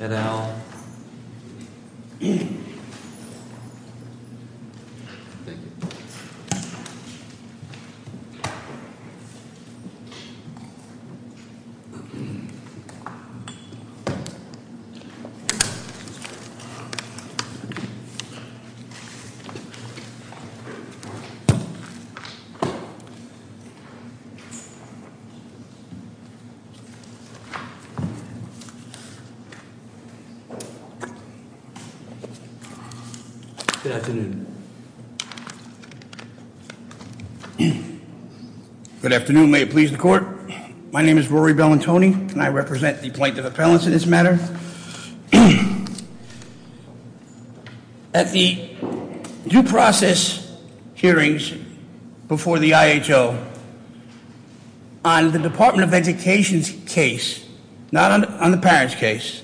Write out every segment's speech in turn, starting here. et al. Good afternoon. May it please the court. My name is Rory Bellantoni, and I represent the plaintiff appellants in this matter. At the due process hearings before the IHO, on the Department of Education's case, not on the parents' case,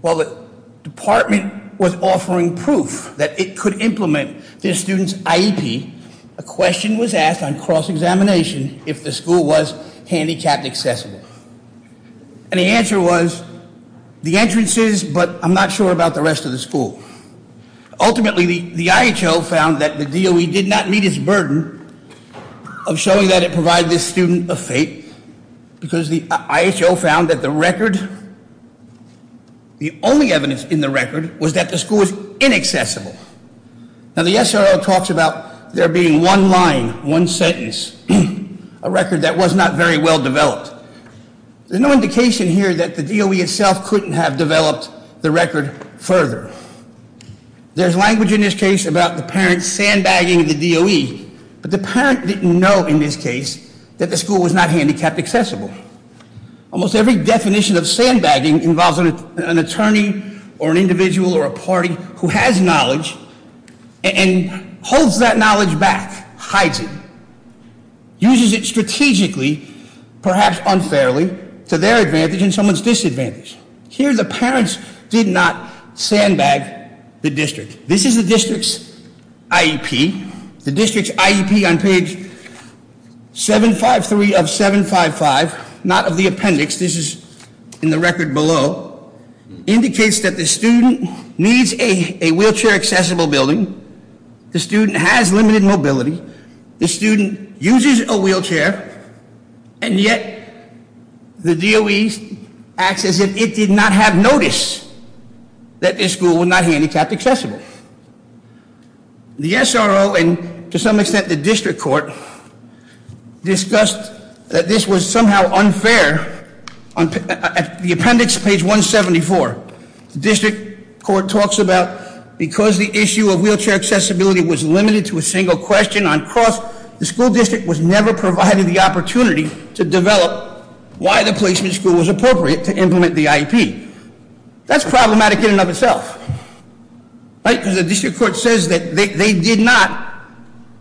while the department was offering proof that it could implement the student's IEP, a question was asked on cross-examination if the school was handicapped accessible. And the answer was, the entrance is, but I'm not sure about the rest of the school. Ultimately, the IHO found that the DOE did not meet its burden of showing that it provided this student a fate, because the IHO found that the record, the only evidence in the record, was that the school was inaccessible. Now the SRO talks about there being one line, one sentence, a record that was not very well developed. There's no indication here that the DOE itself couldn't have developed the record further. There's language in this case about the parents sandbagging the DOE, but the parent didn't know in this case that the school was not handicapped accessible. Almost every definition of sandbagging involves an attorney or an individual or a party who has knowledge and holds that knowledge back, hides it, uses it strategically, perhaps unfairly, to their advantage and someone's disadvantage. This is the district's IEP. The district's IEP on page 753 of 755, not of the appendix. This is in the record below. Indicates that the student needs a wheelchair accessible building, the student has limited mobility, the student uses a wheelchair, and yet the DOE acts as if it did not have notice that this school was not handicapped accessible. The SRO, and to some extent the district court, discussed that this was somehow unfair at the appendix page 174. The district court talks about because the issue of wheelchair accessibility was limited to a single question on cost, the school district was never provided the opportunity to develop why the placement school was appropriate to implement the IEP. That's problematic in and of itself. Right, because the district court says that they did not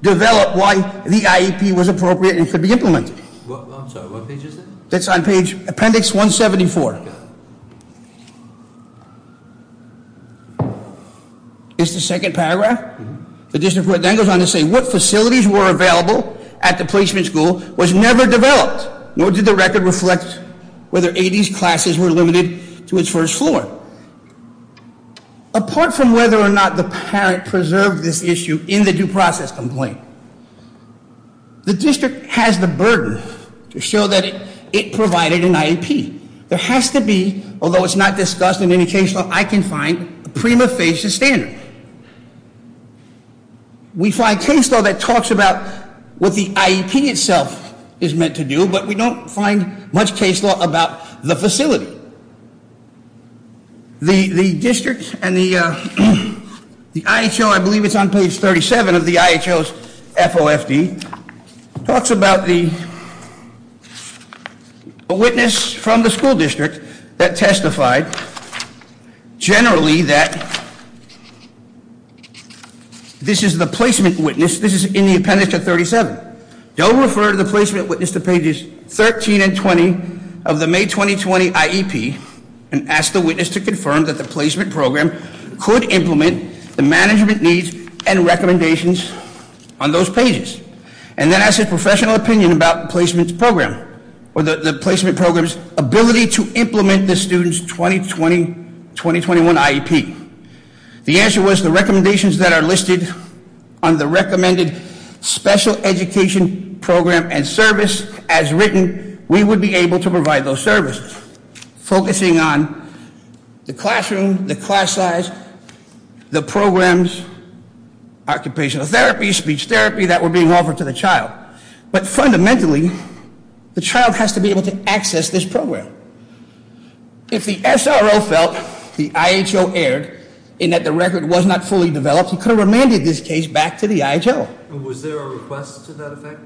develop why the IEP was appropriate and could be implemented. I'm sorry, what page is it? It's on page appendix 174. It's the second paragraph. The district court then goes on to say what facilities were available at the placement school was never developed, nor did the record reflect whether 80s classes were limited to its first floor. Apart from whether or not the parent preserved this issue in the due process complaint, the district has the burden to show that it provided an IEP. There has to be, although it's not discussed in any case law, I can find a prima facie standard. We find case law that talks about what the IEP itself is meant to do, but we don't find much case law about the facility. The district and the IHO, I believe it's on page 37 of the IHO's FOFD, talks about the witness from the school district that testified generally that this is the placement witness. This is in the appendix to 37. Don't refer to the placement witness to pages 13 and 20 of the May 2020 IEP, and ask the witness to confirm that the placement program could implement the management needs and recommendations on those pages. And then ask a professional opinion about the placement program or the placement program's ability to implement the student's 2020-2021 IEP. The answer was the recommendations that are listed on the recommended special education program and service as written, we would be able to provide those services. Focusing on the classroom, the class size, the programs, occupational therapy, speech therapy that were being offered to the child. But fundamentally, the child has to be able to access this program. If the SRO felt the IHO erred in that the record was not fully developed, he could have remanded this case back to the IHO. Was there a request to that effect?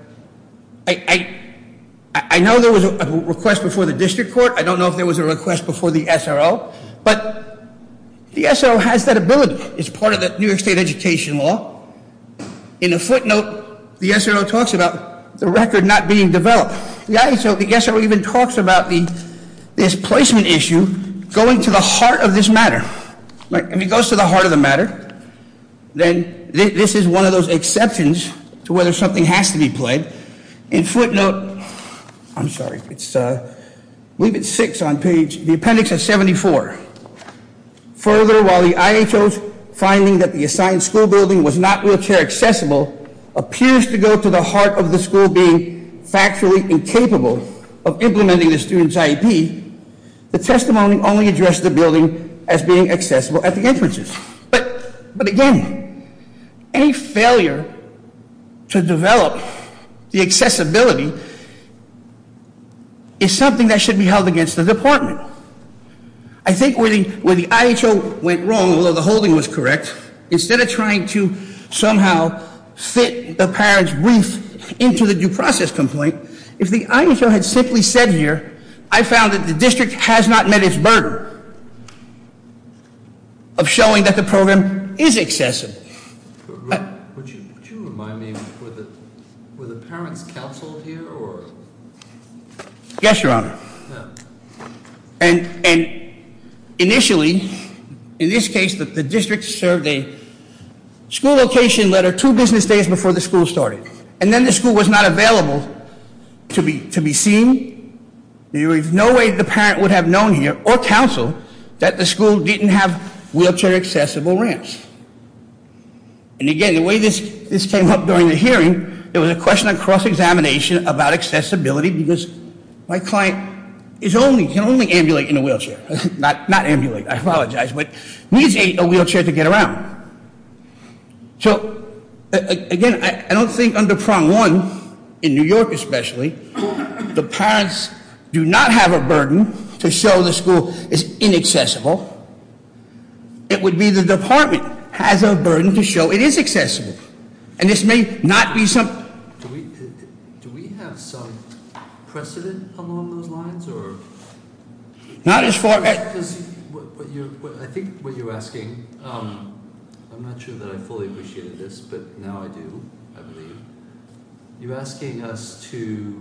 I know there was a request before the district court. I don't know if there was a request before the SRO. But the SRO has that ability. It's part of the New York State education law. In a footnote, the SRO talks about the record not being developed. The SRO even talks about this placement issue going to the heart of this matter. If it goes to the heart of the matter, then this is one of those exceptions to whether something has to be played. In footnote, I'm sorry, it's, I believe it's six on page, the appendix is 74. Further, while the IHO's finding that the assigned school building was not wheelchair accessible appears to go to the heart of the school being factually incapable of implementing the student's IEP, the testimony only addressed the building as being accessible at the entrances. But again, any failure to develop the accessibility is something that should be held against the department. I think where the IHO went wrong, although the holding was correct, instead of trying to somehow fit the parent's grief into the due process complaint, if the IHO had simply said here, I found that the district has not met its burden of showing that the program is accessible. Would you remind me, were the parents counseled here, or? Yes, your honor. And initially, in this case, the district served a school location letter two business days before the school started. And then the school was not available to be seen. There is no way the parent would have known here, or counseled, that the school didn't have wheelchair accessible ramps. And again, the way this came up during the hearing, there was a question on cross-examination about accessibility, because my client can only ambulate in a wheelchair. Not ambulate, I apologize, but needs a wheelchair to get around. So again, I don't think under prong one, in New York especially, the parents do not have a burden to show the school is inaccessible. It would be the department has a burden to show it is accessible. And this may not be some- Do we have some precedent along those lines, or? Not as far as- I think what you're asking, I'm not sure that I fully appreciated this, but now I do, I believe. You're asking us to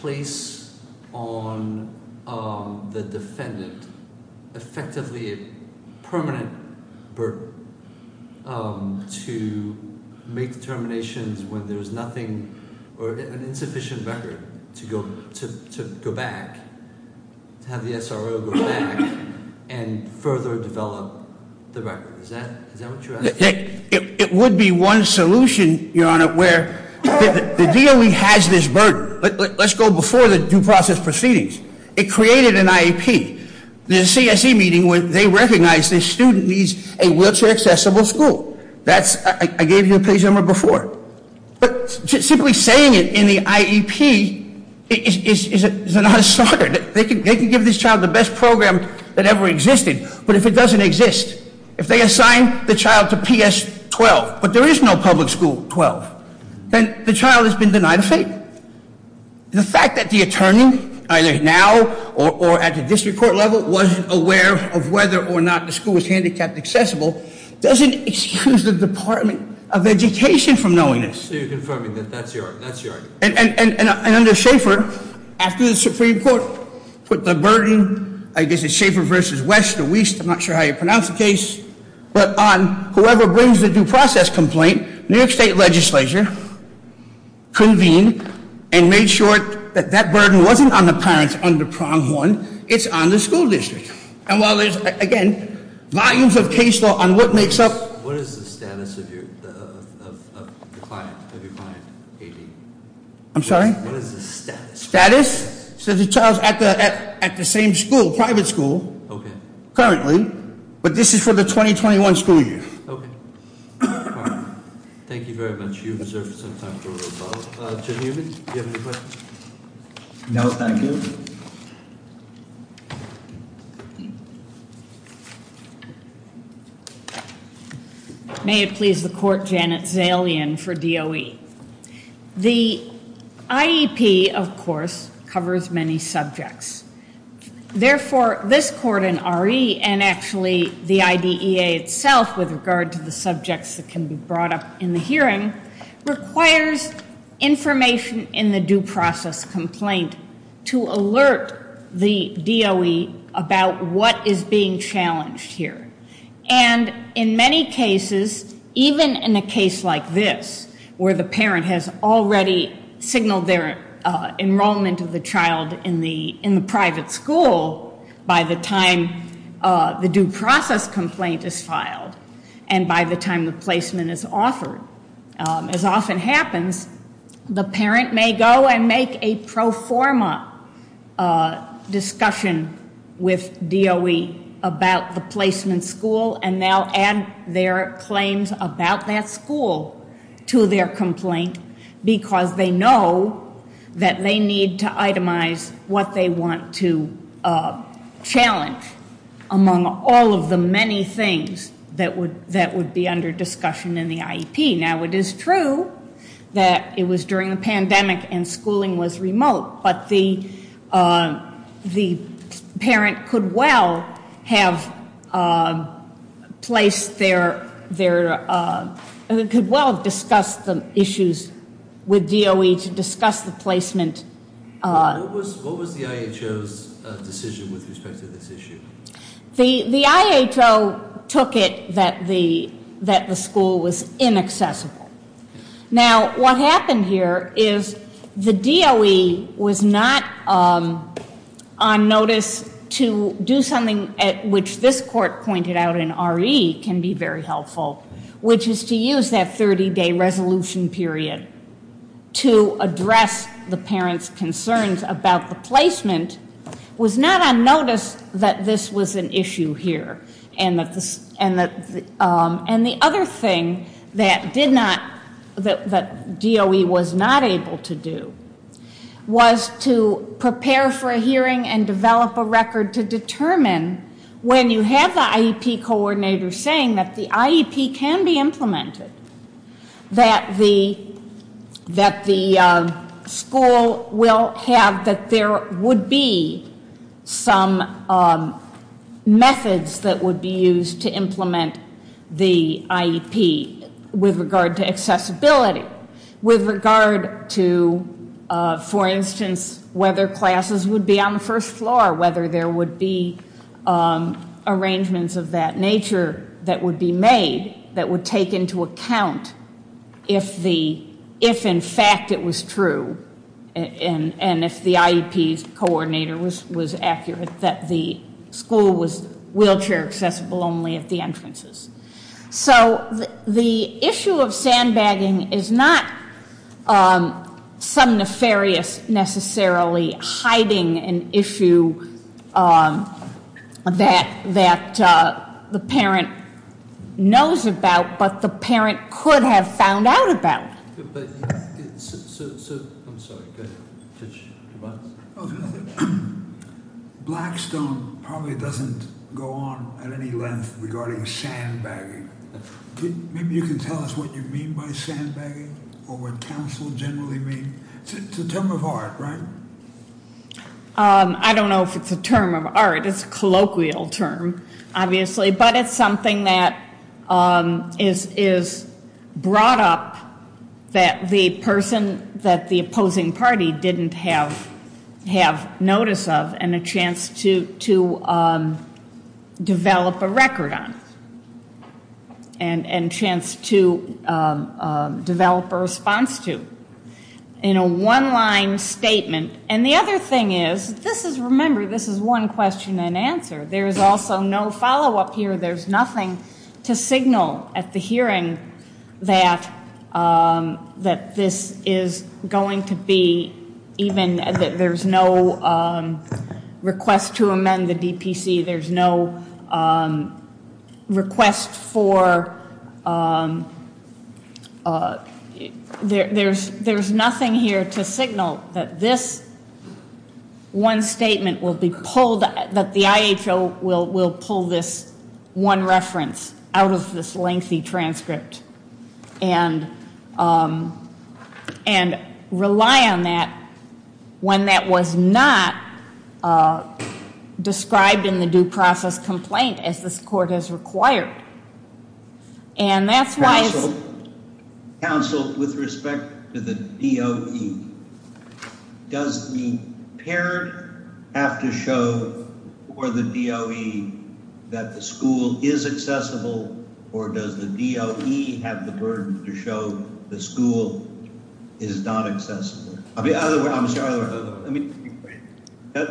place on the defendant, effectively a permanent burden to make determinations when there's nothing, or an insufficient record to go back, to have the SRO go back and further develop the record. Is that what you're asking? It would be one solution, Your Honor, where the DOE has this burden. Let's go before the due process proceedings. It created an IEP. The CSE meeting where they recognized this student needs a wheelchair accessible school. That's, I gave you a page number before. But simply saying it in the IEP is not a starter. They can give this child the best program that ever existed, but if it doesn't exist, if they assign the child to PS 12, but there is no public school 12, then the child has been denied a fate. The fact that the attorney, either now or at the district court level, wasn't aware of whether or not the school was handicapped accessible doesn't excuse the Department of Education from knowing this. So you're confirming that that's your argument? And under Schaefer, after the Supreme Court put the burden, I guess it's Schaefer versus West, I'm not sure how you pronounce the case, but on whoever brings the due process complaint, New York State Legislature convened and made sure that that burden wasn't on the parents under prong one, it's on the school district. And while there's, again, volumes of case law on what makes up- What is the status of your client, AB? I'm sorry? What is the status? Status? So the child's at the same school, private school. Okay. Currently. But this is for the 2021 school year. Okay. Thank you very much. You've served some time for us all. Jim Newman, do you have any questions? No, thank you. May it please the court, Janet Zalian for DOE. The IEP, of course, covers many subjects. Therefore, this court in RE and actually the IDEA itself with regard to the subjects that can be brought up in the hearing, requires information in the due process complaint to alert the DOE about what is being challenged here. And in many cases, even in a case like this, where the parent has already signaled their enrollment of the child in the private school, by the time the due process complaint is filed and by the time the placement is offered, as often happens, the parent may go and make a pro forma discussion with DOE about the placement school and they'll add their claims about that school to their complaint because they know that they need to itemize what they want to challenge among all of the many things that would be under discussion in the IEP. Now, it is true that it was during the pandemic and schooling was remote, but the parent could well have discussed the issues with DOE to discuss the placement. What was the IHO's decision with respect to this issue? The IHO took it that the school was inaccessible. Now, what happened here is the DOE was not on notice to do something at which this court pointed out in RE can be very helpful, which is to use that 30-day resolution period to address the parent's concerns about the placement, was not on notice that this was an issue here. And the other thing that DOE was not able to do was to prepare for a hearing and develop a record to determine when you have the IEP coordinator saying that the IEP can be implemented, that the school will have, that there would be some methods that would be used to implement the IEP with regard to accessibility, with regard to, for instance, whether classes would be on the first floor, whether there would be arrangements of that nature that would be made that would take into account if in fact it was true and if the IEP coordinator was accurate that the school was wheelchair accessible only at the entrances. So the issue of sandbagging is not some nefarious necessarily hiding an issue that the parent knows about, but the parent could have found out about. I'm sorry, go ahead. Blackstone probably doesn't go on at any length regarding sandbagging. Maybe you can tell us what you mean by sandbagging or what council generally means. It's a term of art, right? I don't know if it's a term of art. It's a colloquial term, obviously, but it's something that is brought up that the person, that the opposing party didn't have notice of and a chance to develop a record on and chance to develop a response to in a one-line statement. And the other thing is, this is, remember, this is one question and answer. There is also no follow-up here. There's nothing to signal at the hearing that this is going to be even, that there's no request to amend the DPC. There's no request for, there's nothing here to signal that this one statement will be pulled, that the IHO will pull this one reference out of this lengthy transcript and rely on that when that was not described in the due process complaint as this court has required. And that's why it's... Council, with respect to the DOE, does the parent have to show for the DOE that the school is accessible or does the DOE have the burden to show the school is not accessible? I mean, other words, I'm sorry, other words. Let me...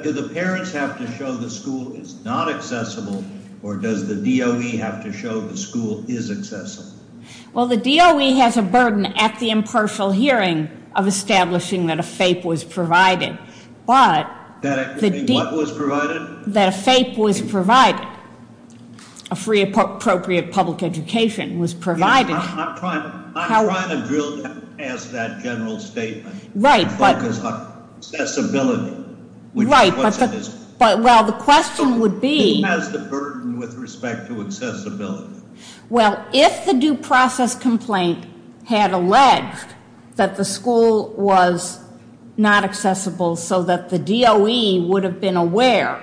Do the parents have to show the school is not accessible or does the DOE have to show the school is accessible? Well, the DOE has a burden at the impartial hearing of establishing that a FAPE was provided. But... What was provided? That a FAPE was provided, a Free Appropriate Public Education was provided. I'm trying to drill down past that general statement... Right, but... ...and focus on accessibility. Right, but the question would be... He has the burden with respect to accessibility. Well, if the due process complaint had alleged that the school was not accessible so that the DOE would have been aware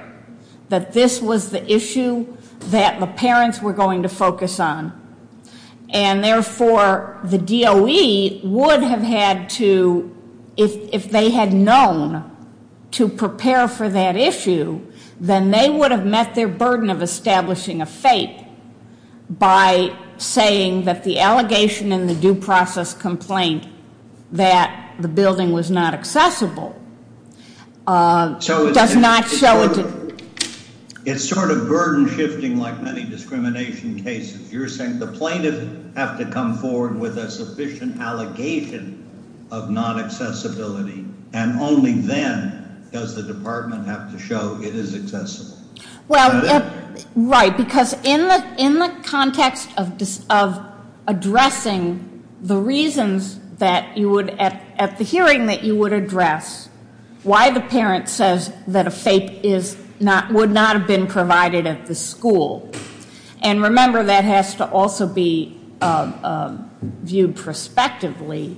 that this was the issue that the parents were going to focus on and therefore the DOE would have had to... ...by saying that the allegation in the due process complaint that the building was not accessible does not show it... It's sort of burden shifting like many discrimination cases. You're saying the plaintiff has to come forward with a sufficient allegation of non-accessibility and only then does the department have to show it is accessible. Well, right, because in the context of addressing the reasons that you would at the hearing that you would address why the parent says that a FAPE would not have been provided at the school and remember that has to also be viewed prospectively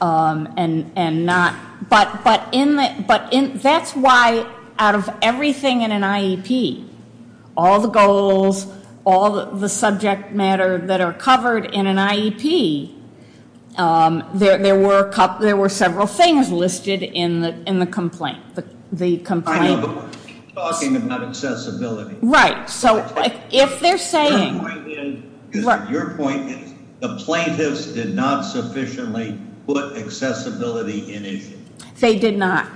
and not... But that's why out of everything in an IEP, all the goals, all the subject matter that are covered in an IEP, there were several things listed in the complaint. I know, but we're talking about accessibility. Right, so if they're saying... Your point is the plaintiffs did not sufficiently put accessibility in issue. They did not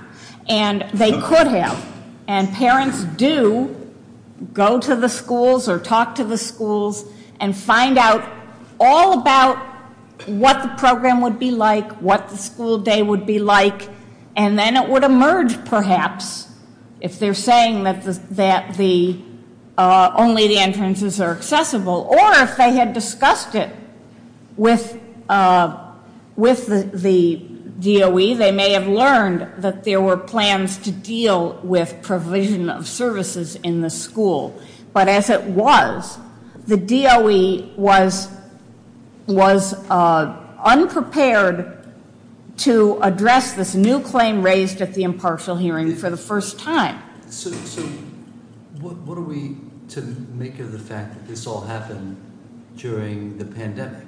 and they could have and parents do go to the schools or talk to the schools and find out all about what the program would be like, what the school day would be like and then it would emerge perhaps if they're saying that only the entrances are accessible or if they had discussed it with the DOE, they may have learned that there were plans to deal with provision of services in the school. But as it was, the DOE was unprepared to address this new claim raised at the impartial hearing for the first time. So what are we to make of the fact that this all happened during the pandemic?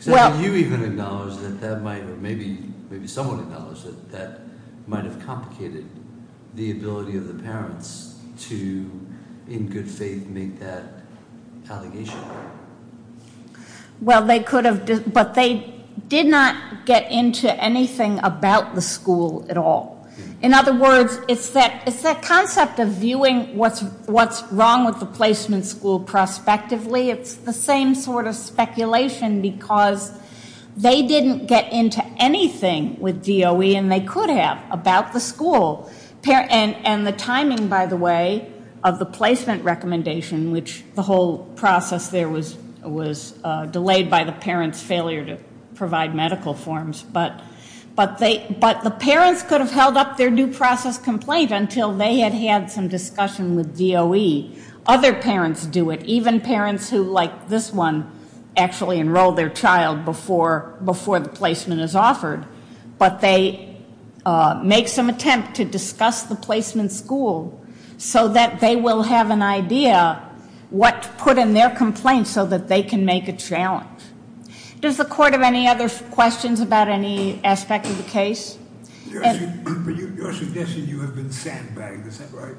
So do you even acknowledge that that might, or maybe someone acknowledges that that might have complicated the ability of the parents to, in good faith, make that allegation? Well, they could have, but they did not get into anything about the school at all. In other words, it's that concept of viewing what's wrong with the placement school prospectively. It's the same sort of speculation because they didn't get into anything with DOE and they could have about the school and the timing, by the way, of the placement recommendation, which the whole process there was delayed by the parents' failure to provide medical forms. But the parents could have held up their due process complaint until they had had some discussion with DOE. Other parents do it, even parents who, like this one, actually enroll their child before the placement is offered. But they make some attempt to discuss the placement school so that they will have an idea what to put in their complaint so that they can make a challenge. Does the court have any other questions about any aspect of the case? Your suggestion, you have been sandbagged, is that right?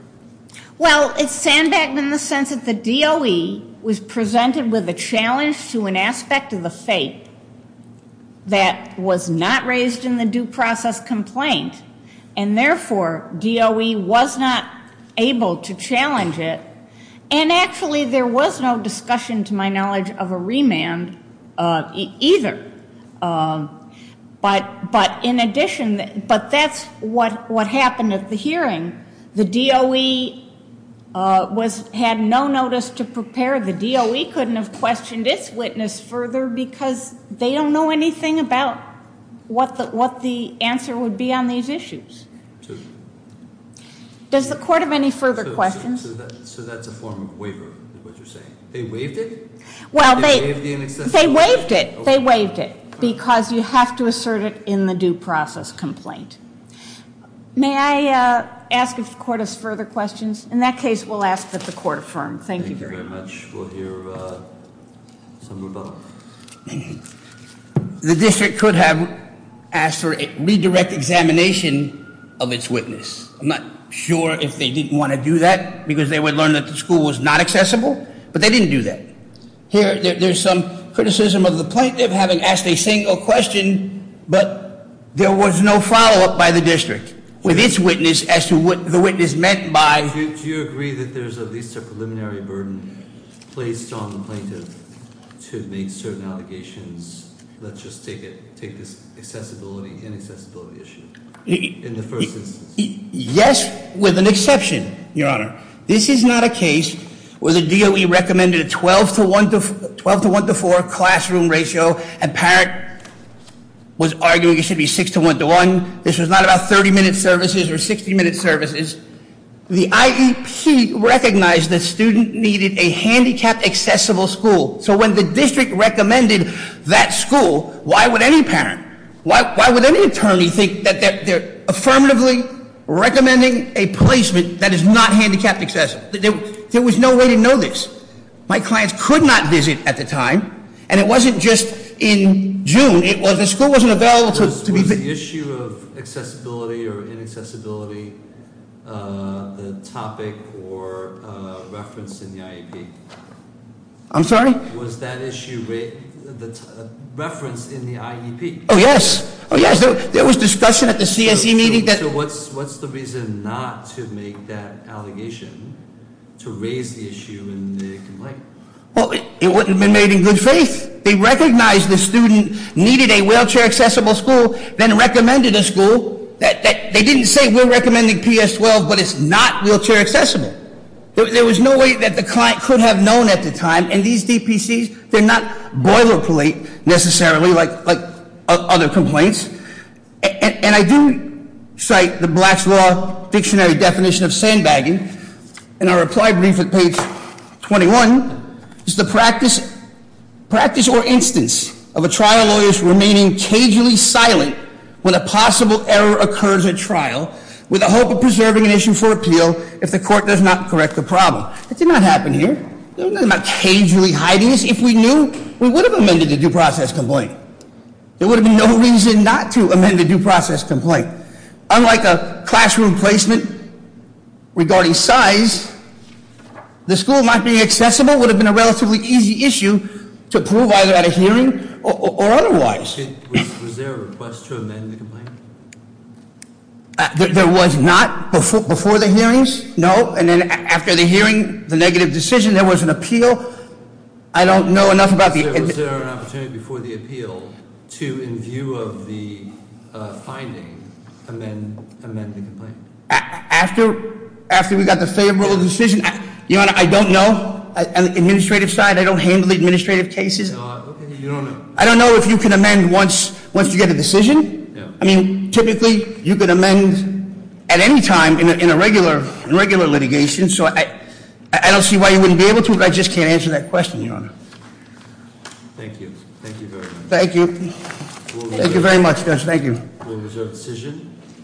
Well, it's sandbagged in the sense that the DOE was presented with a challenge to an aspect of the fate that was not raised in the due process complaint, and therefore DOE was not able to challenge it. And actually there was no discussion, to my knowledge, of a remand either. But in addition, but that's what happened at the hearing. The DOE had no notice to prepare. The DOE couldn't have questioned its witness further because they don't know anything about what the answer would be on these issues. Does the court have any further questions? So that's a form of waiver, is what you're saying? They waived it? Well, they waived it. They waived it because you have to assert it in the due process complaint. May I ask if the court has further questions? In that case, we'll ask that the court affirm. Thank you very much. Thank you very much. We'll hear some rebuttal. The district could have asked for a redirect examination of its witness. I'm not sure if they didn't want to do that because they would learn that the school was not accessible, but they didn't do that. There's some criticism of the plaintiff having asked a single question, but there was no follow-up by the district with its witness as to what the witness meant by- Do you agree that there's at least a preliminary burden placed on the plaintiff to make certain allegations? Let's just take this accessibility, inaccessibility issue in the first instance. Yes, with an exception, Your Honor. This is not a case where the DOE recommended a 12 to 1 to 4 classroom ratio. A parent was arguing it should be 6 to 1 to 1. This was not about 30 minute services or 60 minute services. The IEP recognized the student needed a handicapped accessible school. So when the district recommended that school, why would any parent, why would any attorney think that they're affirmatively recommending a placement that is not handicapped accessible? There was no way to know this. My clients could not visit at the time, and it wasn't just in June. The school wasn't available to- Was the issue of accessibility or inaccessibility the topic or reference in the IEP? I'm sorry? Was that issue referenced in the IEP? Oh, yes. There was discussion at the CSE meeting that- So what's the reason not to make that allegation to raise the issue in the complaint? Well, it wouldn't have been made in good faith. They recognized the student needed a wheelchair accessible school, then recommended a school. They didn't say we're recommending PS 12, but it's not wheelchair accessible. There was no way that the client could have known at the time. And these DPCs, they're not boilerplate, necessarily, like other complaints. And I do cite the Black's Law dictionary definition of sandbagging. In our reply brief at page 21, it's the practice or instance of a trial lawyer's remaining cagely silent when a possible error occurs at trial, with the hope of preserving an issue for appeal if the court does not correct the problem. That did not happen here. There was nothing about cagely hiding us. If we knew, we would have amended the due process complaint. There would have been no reason not to amend the due process complaint. Unlike a classroom placement regarding size, the school not being accessible would have been a relatively easy issue to prove either at a hearing or otherwise. Was there a request to amend the complaint? There was not before the hearings, no. And then after the hearing, the negative decision, there was an appeal. I don't know enough about the- Was there an opportunity before the appeal to, in view of the finding, amend the complaint? After we got the favorable decision? Your Honor, I don't know. On the administrative side, I don't handle administrative cases. Okay, you don't know. I don't know if you can amend once you get a decision. Yeah. I mean, typically, you could amend at any time in a regular litigation. So I don't see why you wouldn't be able to, but I just can't answer that question, Your Honor. Thank you. Thank you very much. Thank you. Thank you very much, Judge. Thank you. We reserve the decision.